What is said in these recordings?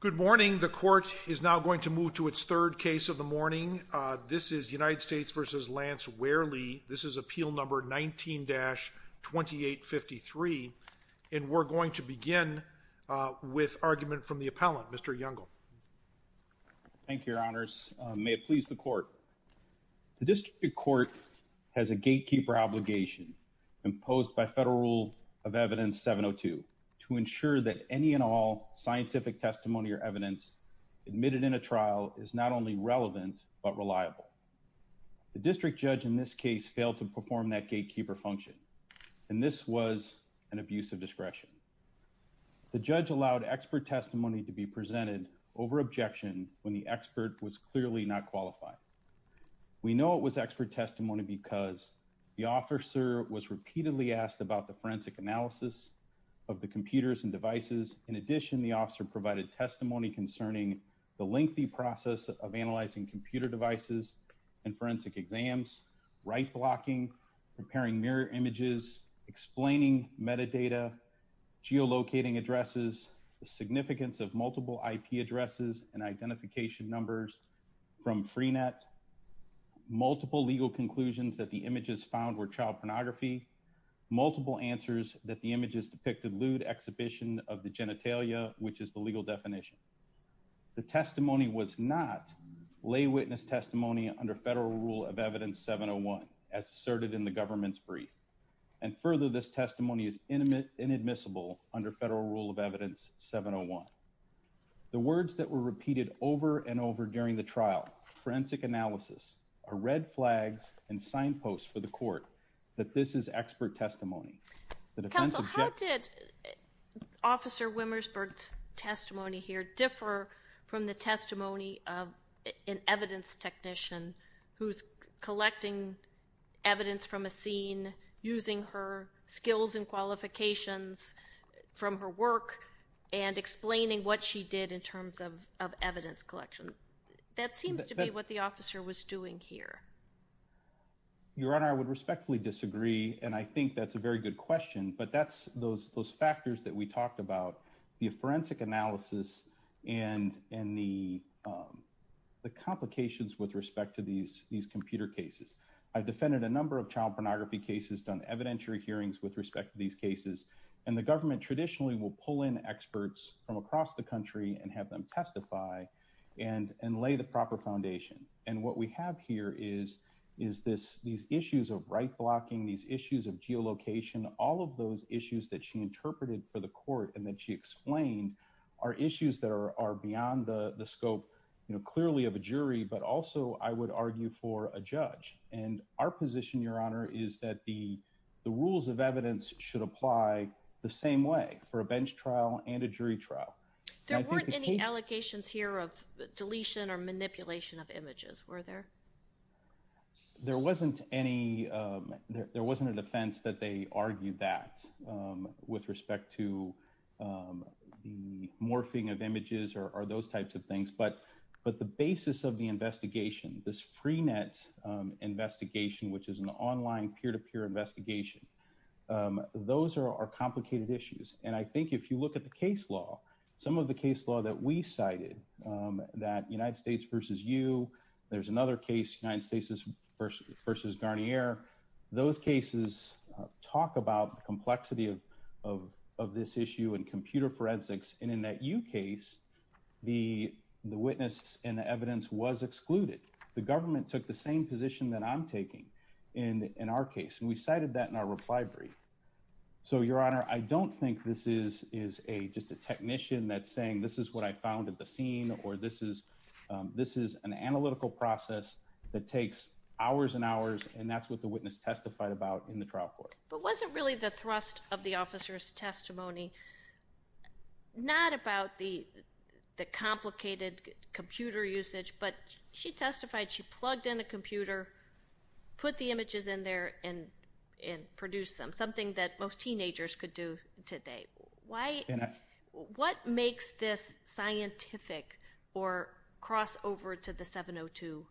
Good morning. The court is now going to move to its third case of the morning. This is United States v. Lance Wehrle. This is appeal number 19-2853, and we're going to begin with argument from the appellant, Mr. Youngle. Thank you, Your Honors. May it please the court. The district court has a gatekeeper obligation imposed by federal rule of evidence 702 to ensure that any and all scientific testimony or evidence admitted in a trial is not only relevant but reliable. The district judge in this case failed to perform that gatekeeper function, and this was an abuse of discretion. The judge allowed expert testimony to be presented over objection when the expert was clearly not qualified. We know it was expert testimony because the officer was repeatedly asked about the forensic analysis of the computers and devices. In addition, the officer provided testimony concerning the lengthy process of analyzing computer devices and forensic exams, right-blocking, preparing mirror images, explaining metadata, geolocating addresses, the significance of multiple IP addresses and identification numbers from Freenet, multiple legal conclusions that the images found were child pornography, multiple answers that the images depicted lewd exhibition of the geolocation. The testimony was not lay witness testimony under federal rule of evidence 701, as asserted in the government's brief. And further, this testimony is inadmissible under federal rule of evidence 701. The words that were repeated over and over during the trial, forensic analysis, are red flags and signposts for the court that this is expert testimony. Counsel, how did Officer Wimmersberg's testimony here differ from the testimony of an evidence technician who's collecting evidence from a scene, using her skills and qualifications from her work, and explaining what she did in terms of evidence collection? That seems to be what the officer was doing here. Your Honor, I would respectfully disagree, and I think that's a very good question, but that's those factors that we talked about, the forensic analysis and the complications with respect to these computer cases. I've defended a number of child pornography cases, done evidentiary hearings with respect to these cases, and the government traditionally will pull in experts from across the country and have them testify and lay the proper foundation. And what we have here is these issues of right blocking, these issues of geolocation, all of those issues that she interpreted for the court and that she explained are issues that are beyond the scope clearly of a jury, but also, I would argue, for a judge. And our position, Your Honor, is that the rules of evidence should apply the same way for a bench trial and a jury trial. There weren't any allegations here of deletion or manipulation of images, were there? There wasn't any, there wasn't an offense that they argued that with respect to the morphing of images or those types of things, but the basis of the investigation, this Freenet investigation, which is an online peer-to-peer investigation, those are complicated issues. And I think if you look at the case law, some of the case law that we cited, that United States versus you, there's another case, United States versus Garnier, those cases talk about the complexity of this issue in computer forensics. And in that you case, the witness and the evidence was excluded. The government took the same position that I'm taking in our case, and we cited that in our reply brief. So, Your Honor, I don't think this is just a technician that's saying, this is what I found at the scene, or this is an analytical process that takes hours and hours, and that's what the witness testified about in the trial court. But was it really the thrust of the officer's testimony, not about the complicated computer usage, but she testified she plugged in a computer, put the images in there, and produced them, something that most teenagers could do today. What makes this scientific or cross over to the 702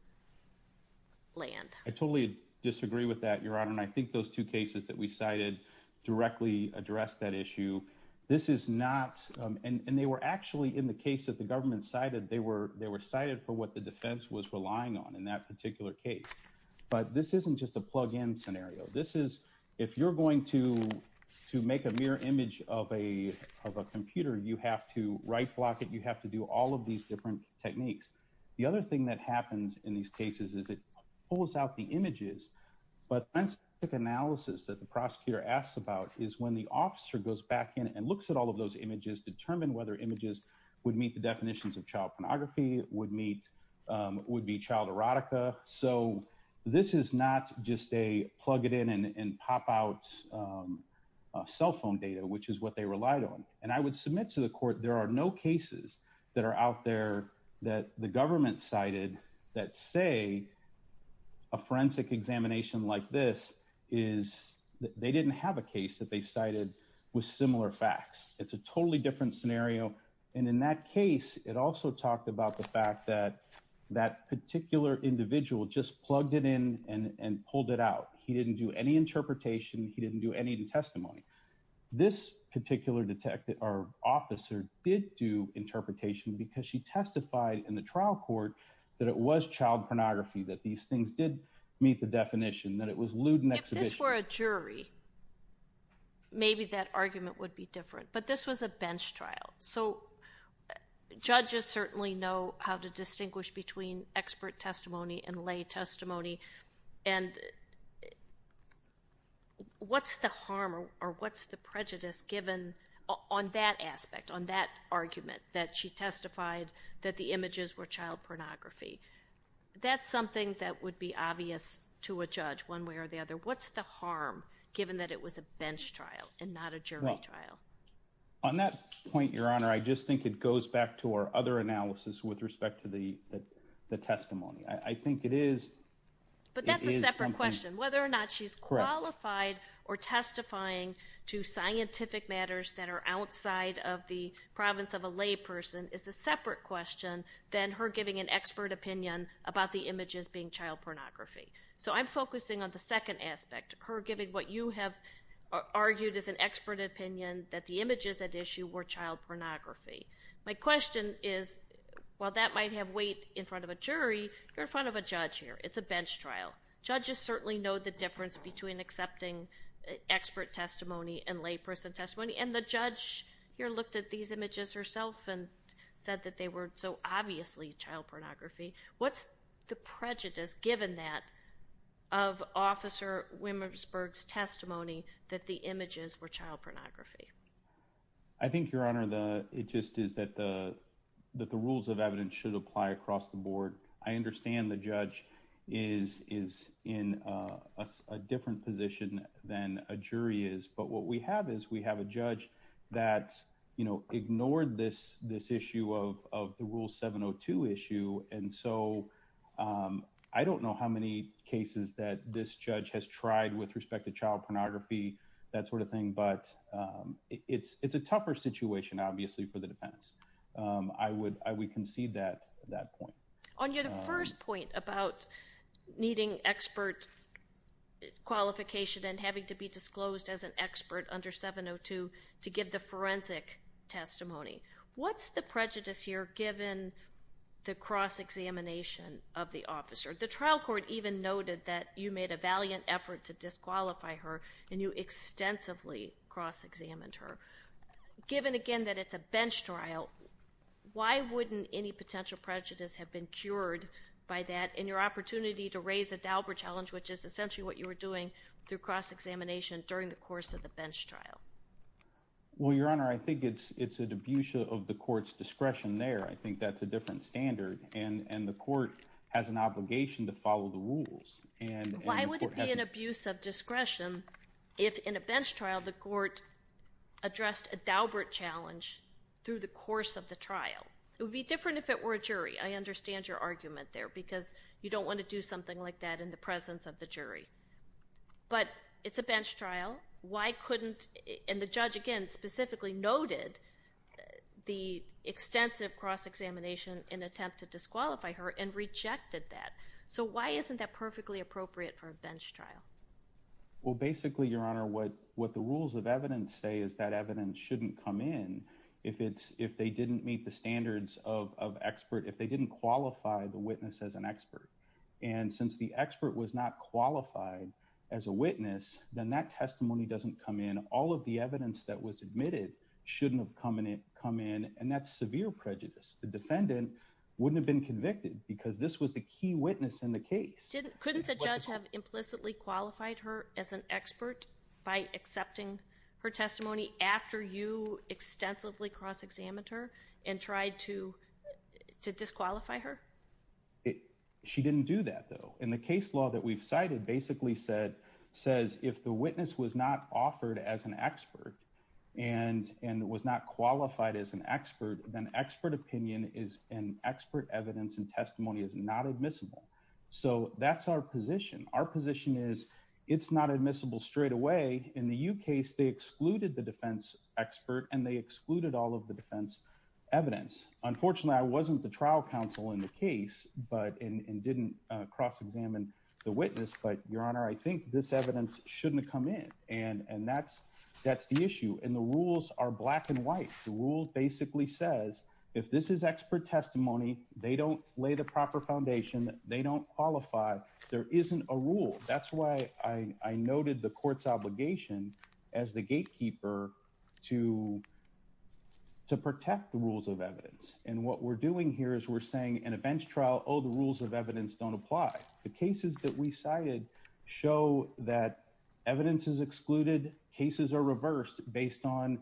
land? I totally disagree with that, Your Honor, and I think those two cases that we cited directly address that issue. This is not, and they were actually in the case that the government cited, they were cited for what the defense was relying on in that particular case. But this isn't just a plug-in scenario. This is, if you're going to make a mirror image of a computer, you have to right block it, you have to do all of these different techniques. The other thing that happens in these cases is it pulls out the images, but the analysis that the prosecutor asks about is when the officer goes back in and looks at all of those images, determine whether images would meet the definitions of child pornography, would be child erotica. So, this is not just a plug it in and pop out cell phone data, which is what they relied on. And I would submit to the court, there are no cases that are out there that the government cited that say a forensic examination like this is, they didn't have a case that they cited with similar facts. It's a totally different scenario. And in that case, it also talked about the fact that that particular individual just plugged it in and pulled it out. He didn't do any interpretation, he didn't do any testimony. This particular officer did do interpretation because she testified in the trial court that it was child pornography, that these things did meet the definition, that it was lewd and exhibition. If this were a jury, maybe that argument would be different. But this was a bench trial. So, judges certainly know how to distinguish between expert testimony and lay testimony. And what's the harm or what's the prejudice given on that aspect, on that argument that she testified that the images were child pornography? That's something that would be obvious to a judge one way or the other. What's the harm given that it was a bench trial and not a jury trial? On that point, Your Honor, I just think it goes back to our other analysis with respect to the testimony. I think it is... But that's a separate question. Whether or not she's qualified or testifying to scientific matters that are outside of the province of a lay person is a separate question than her giving an expert opinion about the images being child pornography. So, I'm focusing on the second aspect, her giving what you have argued as an expert opinion that the images at issue were child pornography. My question is, while that might have weight in front of a jury, you're in front of a judge here. It's a bench trial. Judges certainly know the difference between accepting expert testimony and lay person testimony. And the judge here looked at these images herself and said that they were so obviously child pornography. What's the prejudice given that of Officer Williamsburg's testimony that the images were child pornography? I think, Your Honor, it just is that the rules of evidence should apply across the board. I understand the judge is in a different position than a jury is. But what we have is we have a judge that ignored this issue of the Rule 702 issue. And so, I don't know how many cases that this judge has tried with respect to child pornography, that sort of thing. But it's a tougher situation, obviously, for the defendants. I would concede that point. On your first point about needing expert qualification and having to be disclosed as an expert under 702 to give the forensic testimony, what's the prejudice here given the cross-examination of the officer? The trial court even noted that you made a valiant effort to disqualify her and you extensively cross-examined her. Given, again, that it's a bench trial, why wouldn't any potential prejudice have been cured by that in your opportunity to raise the Dauber challenge, which is essentially what you were doing through cross-examination during the course of the bench trial? Well, Your Honor, I think it's an abuse of the court's discretion there. I think that's a different standard. And the court has an obligation to follow the rules. Why would it be an abuse of discretion if, in a bench trial, the court addressed a Dauber challenge through the course of the trial? It would be different if it were a jury. I understand your argument there because you don't want to do something like that in the presence of the jury. But it's a bench trial. Why couldn't—and the judge, again, specifically noted the extensive cross-examination in an attempt to disqualify her and rejected that. So why isn't that perfectly appropriate for a bench trial? Well, basically, Your Honor, what the rules of evidence say is that evidence shouldn't come in if they didn't meet the standards of expert, if they didn't qualify the witness as an expert. And since the expert was not qualified as a witness, then that testimony doesn't come in. All of the evidence that was admitted shouldn't have come in, and that's severe prejudice. The defendant wouldn't have been convicted because this was the key witness in the case. Couldn't the judge have implicitly qualified her as an expert by accepting her testimony after you extensively cross-examined her and tried to disqualify her? She didn't do that, though. And the case law that we've cited basically says if the witness was not offered as an expert and was not qualified as an expert, then expert opinion and expert evidence and testimony is not admissible. So that's our position. Our position is it's not admissible straightaway. In the U case, they excluded the defense expert and they excluded all of the defense evidence. Unfortunately, I wasn't the trial counsel in the case and didn't cross-examine the witness, but, Your Honor, I think this evidence shouldn't come in, and that's the issue. And the rules are black and white. The rule basically says if this is expert testimony, they don't lay the proper foundation, they don't qualify, there isn't a rule. That's why I noted the court's obligation as the gatekeeper to protect the rules of evidence. And what we're doing here is we're saying in a bench trial, oh, the rules of evidence don't apply. The cases that we cited show that evidence is excluded, cases are reversed based on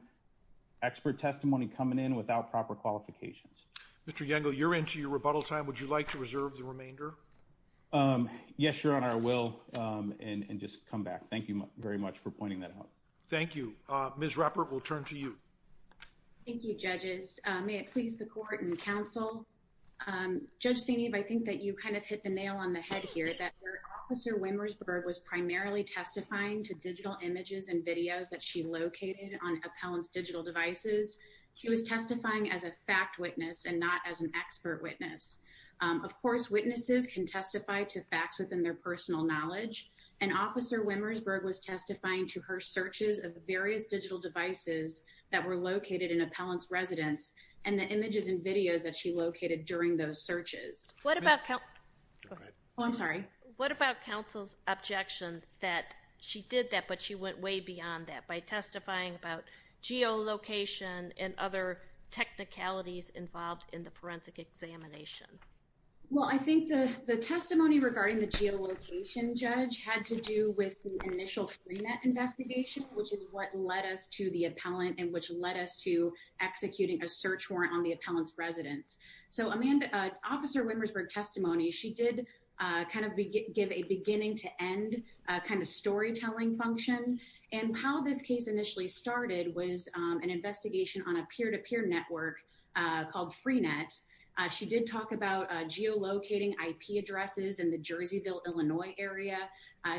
expert testimony coming in without proper qualifications. Mr. Yangle, you're into your rebuttal time. Would you like to reserve the remainder? Yes, Your Honor, I will, and just come back. Thank you very much for pointing that out. Thank you. Ms. Rappert, we'll turn to you. Thank you, judges. May it please the court and counsel. Judge Seneb, I think that you kind of hit the nail on the head here, that Officer Wimmersberg was primarily testifying to digital images and videos that she located on appellant's digital devices. She was testifying as a fact witness and not as an expert witness. Of course, witnesses can testify to facts within their personal knowledge. And Officer Wimmersberg was testifying to her searches of various digital devices that were located in appellant's residence and the images and videos that she located during those searches. What about counsel's objection that she did that but she went way beyond that by testifying about geolocation and other technicalities involved in the forensic examination? Well, I think the testimony regarding the geolocation judge had to do with the initial Freenet investigation, which is what led us to the appellant and which led us to executing a search warrant on the appellant's residence. So Amanda, Officer Wimmersberg's testimony, she did kind of give a beginning to end kind of storytelling function. And how this case initially started was an investigation on a peer-to-peer network called Freenet. She did talk about geolocating IP addresses in the Jerseyville, Illinois area.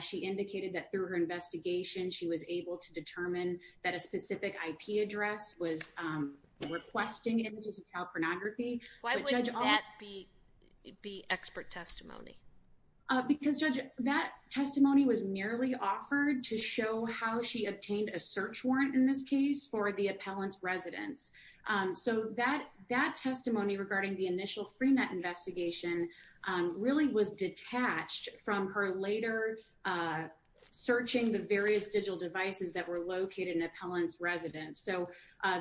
She indicated that through her investigation, she was able to determine that a specific IP address was requesting images of child pornography. Why wouldn't that be expert testimony? Because, Judge, that testimony was merely offered to show how she obtained a search warrant in this case for the appellant's residence. So that testimony regarding the initial Freenet investigation really was detached from her later searching the various digital devices that were located in the appellant's residence. So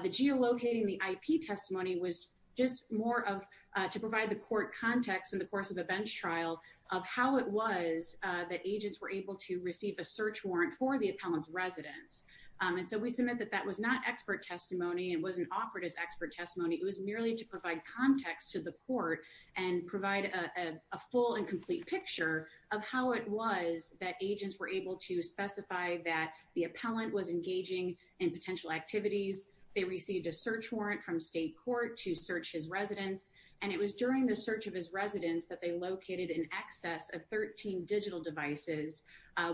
the geolocating, the IP testimony was just more to provide the court context in the course of the bench trial of how it was that agents were able to receive a search warrant for the appellant's residence. And so we submit that that was not expert testimony and wasn't offered as expert testimony. It was merely to provide context to the court and provide a full and complete picture of how it was that agents were able to specify that the appellant was engaging in potential activities. They received a search warrant from state court to search his residence. And it was during the search of his residence that they located in excess of 13 digital devices,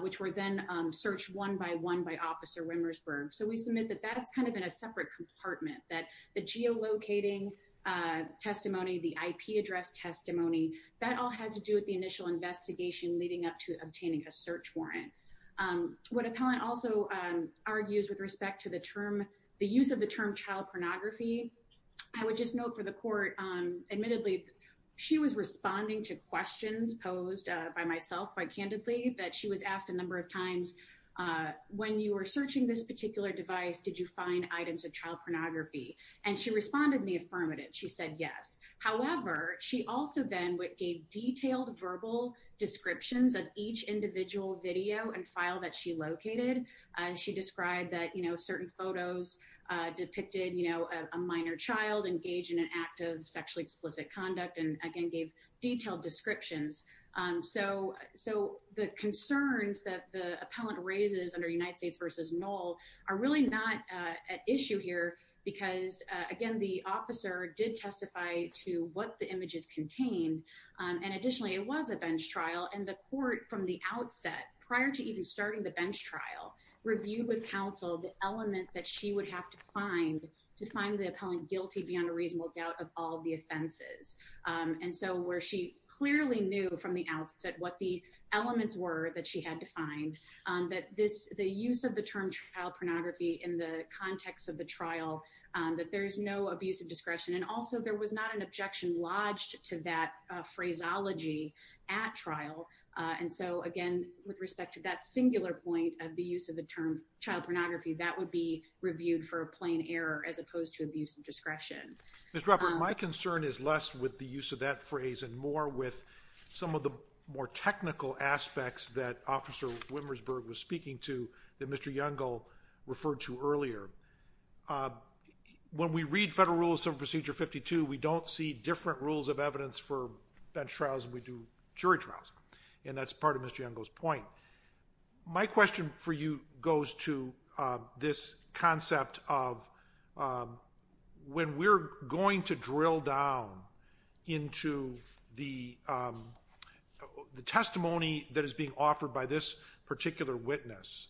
which were then searched one by one by Officer Wimmersberg. So we submit that that's kind of in a separate compartment, that the geolocating testimony, the IP address testimony, that all had to do with the initial investigation leading up to obtaining a search warrant. What appellant also argues with respect to the term, the use of the term child pornography. I would just note for the court, admittedly, she was responding to questions posed by myself by candidly that she was asked a number of times. When you were searching this particular device, did you find items of child pornography? And she responded in the affirmative. She said yes. However, she also then gave detailed verbal descriptions of each individual video and file that she located. She described that, you know, certain photos depicted, you know, a minor child engaged in an act of sexually explicit conduct and again gave detailed descriptions. So the concerns that the appellant raises under United States v. Knoll are really not at issue here because, again, the officer did testify to what the images contained. And additionally, it was a bench trial and the court from the outset, prior to even starting the bench trial, reviewed with counsel the elements that she would have to find to find the appellant guilty beyond a reasonable doubt of all the offenses. And so where she clearly knew from the outset what the elements were that she had to find, that the use of the term child pornography in the context of the trial, that there's no abuse of discretion. And also, there was not an objection lodged to that phraseology at trial. And so, again, with respect to that singular point of the use of the term child pornography, that would be reviewed for a plain error as opposed to abuse of discretion. Ms. Robert, my concern is less with the use of that phrase and more with some of the more technical aspects that Officer Wimmersberg was speaking to that Mr. Youngall referred to earlier. When we read Federal Rule of Civil Procedure 52, we don't see different rules of evidence for bench trials than we do jury trials. And that's part of Mr. Youngall's point. My question for you goes to this concept of when we're going to drill down into the testimony that is being offered by this particular witness,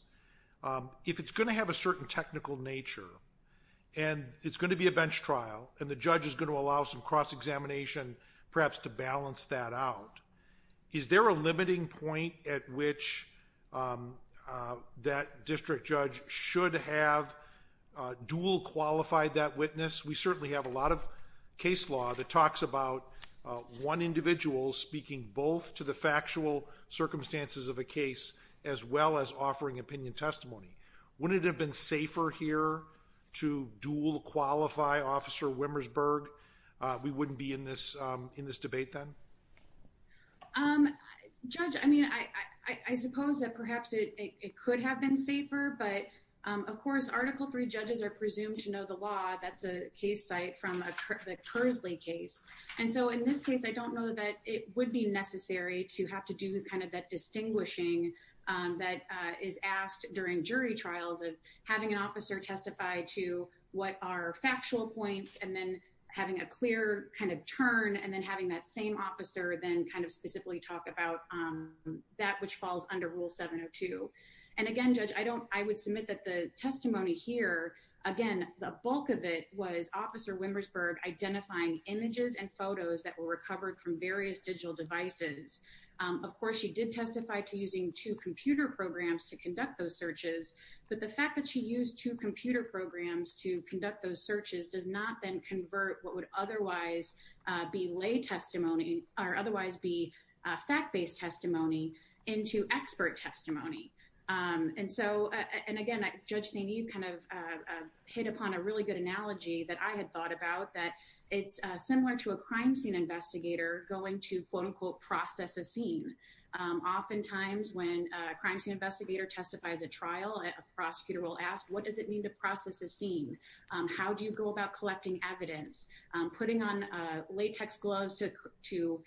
if it's going to have a certain technical nature, and it's going to be a bench trial, and the judge is going to allow some cross-examination perhaps to balance that out, is there a limiting point at which that district judge should have dual-qualified that witness? We certainly have a lot of case law that talks about one individual speaking both to the factual circumstances of a case as well as offering opinion testimony. Wouldn't it have been safer here to dual-qualify Officer Wimmersberg? We wouldn't be in this debate then? Judge, I mean, I suppose that perhaps it could have been safer, but of course, Article III judges are presumed to know the law. That's a case site from the Kersley case. And so in this case, I don't know that it would be necessary to have to do kind of that distinguishing that is asked during jury trials of having an officer testify to what are factual points, and then having a clear kind of turn, and then having that same officer then kind of specifically talk about that which falls under Rule 702. And again, Judge, I would submit that the testimony here, again, the bulk of it was Officer Wimmersberg identifying images and photos that were recovered from various digital devices. Of course, she did testify to using two computer programs to conduct those searches, but the fact that she used two computer programs to conduct those searches does not then convert what would otherwise be lay testimony or otherwise be fact-based testimony into expert testimony. And so, and again, Judge St. Eve kind of hit upon a really good analogy that I had thought about, that it's similar to a crime scene investigator going to quote-unquote process a scene. Oftentimes, when a crime scene investigator testifies at trial, a prosecutor will ask, what does it mean to process a scene? How do you go about collecting evidence, putting on latex gloves to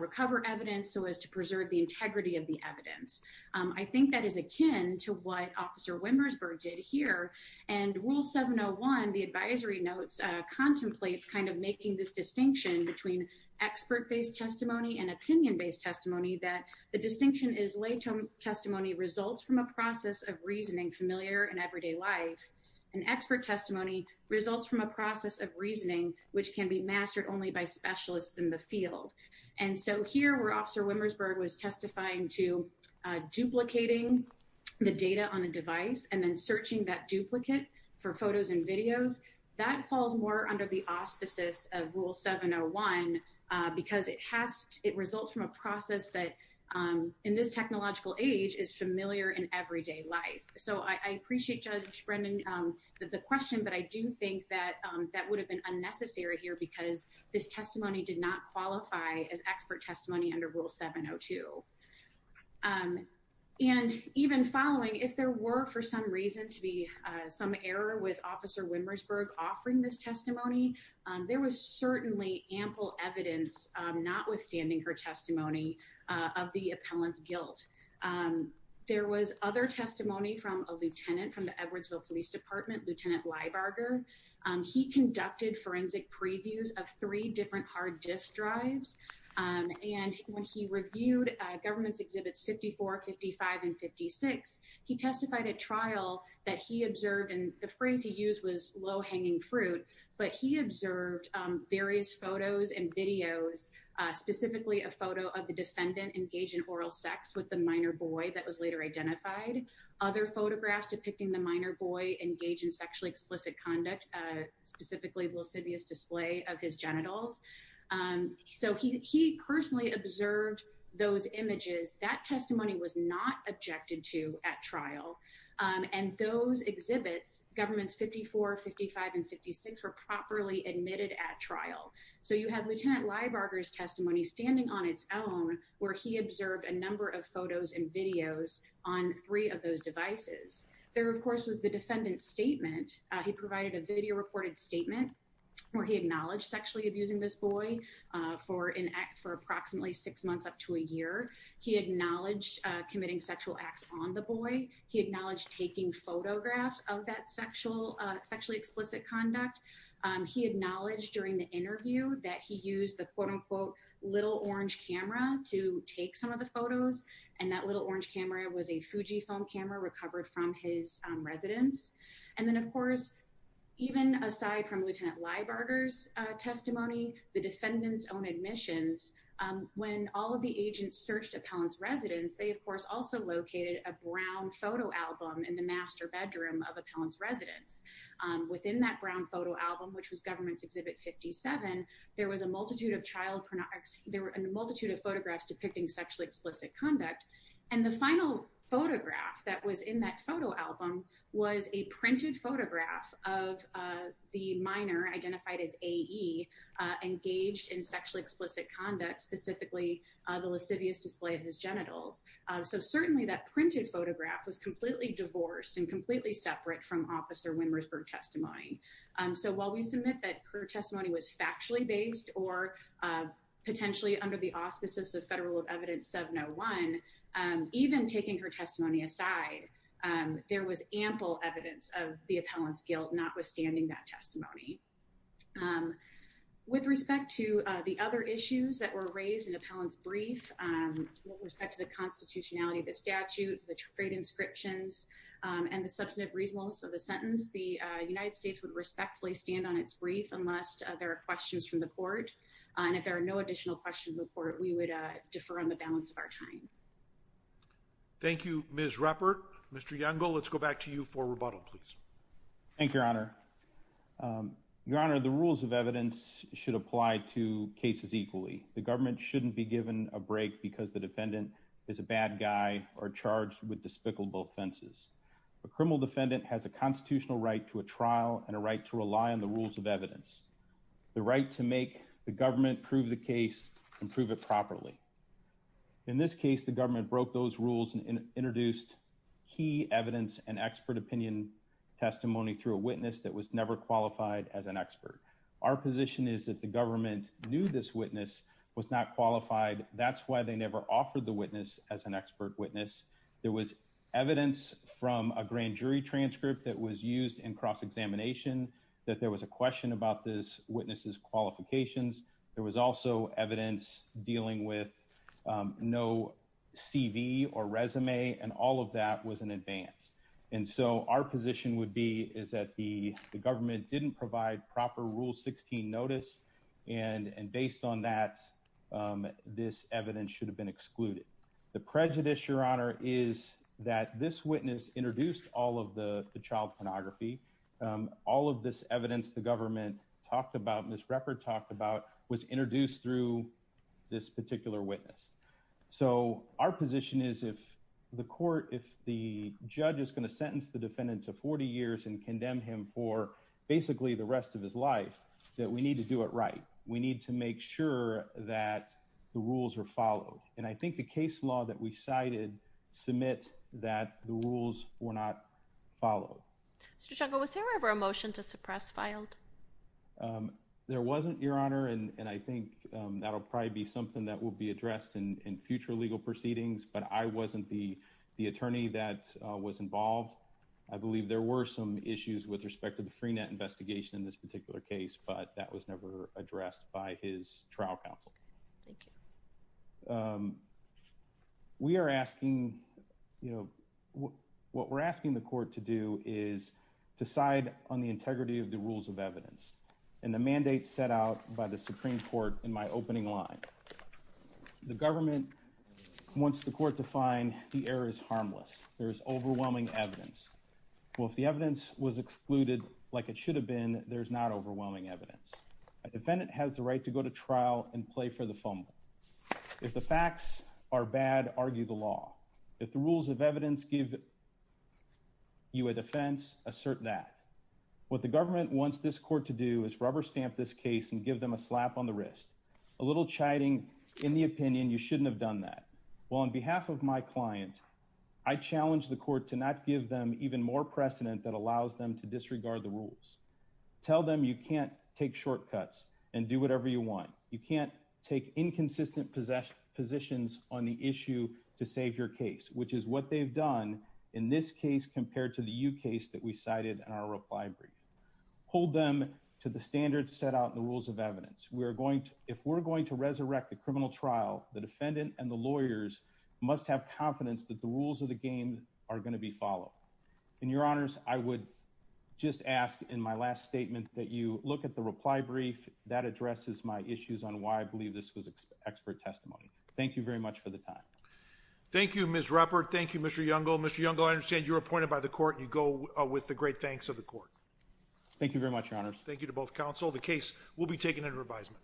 recover evidence so as to preserve the integrity of the evidence? I think that is akin to what Officer Wimmersberg did here. And Rule 701, the advisory notes, contemplates kind of making this distinction between expert-based testimony and opinion-based testimony that the distinction is lay testimony results from a process of reasoning familiar in everyday life, and expert testimony results from a process of reasoning which can be mastered only by specialists in the field. And so here, where Officer Wimmersberg was testifying to duplicating the data on a device and then searching that duplicate for photos and videos, that falls more under the auspices of Rule 701 because it results from a process that, in this technological age, is familiar in everyday life. So I appreciate, Judge Brendan, the question, but I do think that that would have been unnecessary here because this testimony did not qualify as expert testimony under Rule 702. And even following, if there were for some reason to be some error with Officer Wimmersberg offering this testimony, there was certainly ample evidence, notwithstanding her testimony, of the appellant's guilt. There was other testimony from a lieutenant from the Edwardsville Police Department, Lieutenant Liebarger. He conducted forensic previews of three different hard disk drives. And when he reviewed government's exhibits 54, 55, and 56, he testified at trial that he observed, and the phrase he used was low-hanging fruit, but he observed various photos and videos, specifically a photo of the defendant engaged in oral sex with the minor boy that was later identified. Other photographs depicting the minor boy engaged in sexually explicit conduct, specifically lascivious display of his genitals. So he personally observed those images. That testimony was not objected to at trial. And those exhibits, government's 54, 55, and 56, were properly admitted at trial. So you have Lieutenant Liebarger's testimony standing on its own where he observed a number of photos and videos on three of those devices. There, of course, was the defendant's statement. He provided a video-reported statement where he acknowledged sexually abusing this boy for approximately six months up to a year. He acknowledged committing sexual acts on the boy. He acknowledged taking photographs of that sexually explicit conduct. He acknowledged during the interview that he used the quote-unquote little orange camera to take some of the photos. And that little orange camera was a Fujifilm camera recovered from his residence. And then, of course, even aside from Lieutenant Liebarger's testimony, the defendant's own admissions, when all of the agents searched Appellant's residence, they, of course, also located a brown photo album in the master bedroom of Appellant's residence. Within that brown photo album, which was Government's Exhibit 57, there was a multitude of photographs depicting sexually explicit conduct. And the final photograph that was in that photo album was a printed photograph of the minor, identified as A.E., engaged in sexually explicit conduct, specifically the lascivious display of his genitals. So certainly that printed photograph was completely divorced and completely separate from Officer Winn-Ruthberg's testimony. So while we submit that her testimony was factually based or potentially under the auspices of Federal Evidence 701, even taking her testimony aside, there was ample evidence of the Appellant's guilt, notwithstanding that testimony. With respect to the other issues that were raised in Appellant's brief, with respect to the constitutionality of the statute, the trade inscriptions, and the substantive reasonableness of the sentence, the United States would respectfully stand on its brief unless there are questions from the court. And if there are no additional questions from the court, we would defer on the balance of our time. Thank you, Ms. Ruppert. Mr. Youngle, let's go back to you for rebuttal, please. Thank you, Your Honor. Your Honor, the rules of evidence should apply to cases equally. The government shouldn't be given a break because the defendant is a bad guy or charged with despicable offenses. A criminal defendant has a constitutional right to a trial and a right to rely on the rules of evidence, the right to make the government prove the case and prove it properly. In this case, the government broke those rules and introduced key evidence and expert opinion testimony through a witness that was never qualified as an expert. Our position is that the government knew this witness was not qualified. That's why they never offered the witness as an expert witness. There was evidence from a grand jury transcript that was used in cross-examination that there was a question about this witness's qualifications. There was also evidence dealing with no CV or resume, and all of that was in advance. And so our position would be is that the government didn't provide proper Rule 16 notice, and based on that, this evidence should have been excluded. The prejudice, Your Honor, is that this witness introduced all of the child pornography. All of this evidence the government talked about, Ms. Ruppert talked about, was introduced through this particular witness. So our position is if the court, if the judge is going to sentence the defendant to 40 years and condemn him for basically the rest of his life, that we need to do it right. We need to make sure that the rules are followed, and I think the case law that we cited submits that the rules were not followed. Mr. Schenkel, was there ever a motion to suppress Fylde? There wasn't, Your Honor, and I think that'll probably be something that will be addressed in future legal proceedings, but I wasn't the attorney that was involved. I believe there were some issues with respect to the Freenet investigation in this particular case, but that was never addressed by his trial counsel. Thank you. We are asking, you know, what we're asking the court to do is decide on the integrity of the rules of evidence, and the mandate set out by the Supreme Court in my opening line. The government wants the court to find the error is harmless, there is overwhelming evidence. Well, if the evidence was excluded like it should have been, there's not overwhelming evidence. A defendant has the right to go to trial and play for the fumble. If the facts are bad, argue the law. If the rules of evidence give you a defense, assert that. What the government wants this court to do is rubber stamp this case and give them a slap on the wrist. A little chiding in the opinion, you shouldn't have done that. Well, on behalf of my client, I challenge the court to not give them even more precedent that allows them to disregard the rules. Tell them you can't take shortcuts and do whatever you want. You can't take inconsistent positions on the issue to save your case, which is what they've done in this case compared to the U case that we cited in our reply brief. Hold them to the standards set out in the rules of evidence. If we're going to resurrect the criminal trial, the defendant and the lawyers must have confidence that the rules of the game are going to be followed. And your honors, I would just ask in my last statement that you look at the reply brief. That addresses my issues on why I believe this was expert testimony. Thank you very much for the time. Thank you, Ms. Ruppert. Thank you, Mr. Youngall. Mr. Youngall, I understand you're appointed by the court and you go with the great thanks of the court. Thank you very much, your honors. Thank you to both counsel. The case will be taken into revision.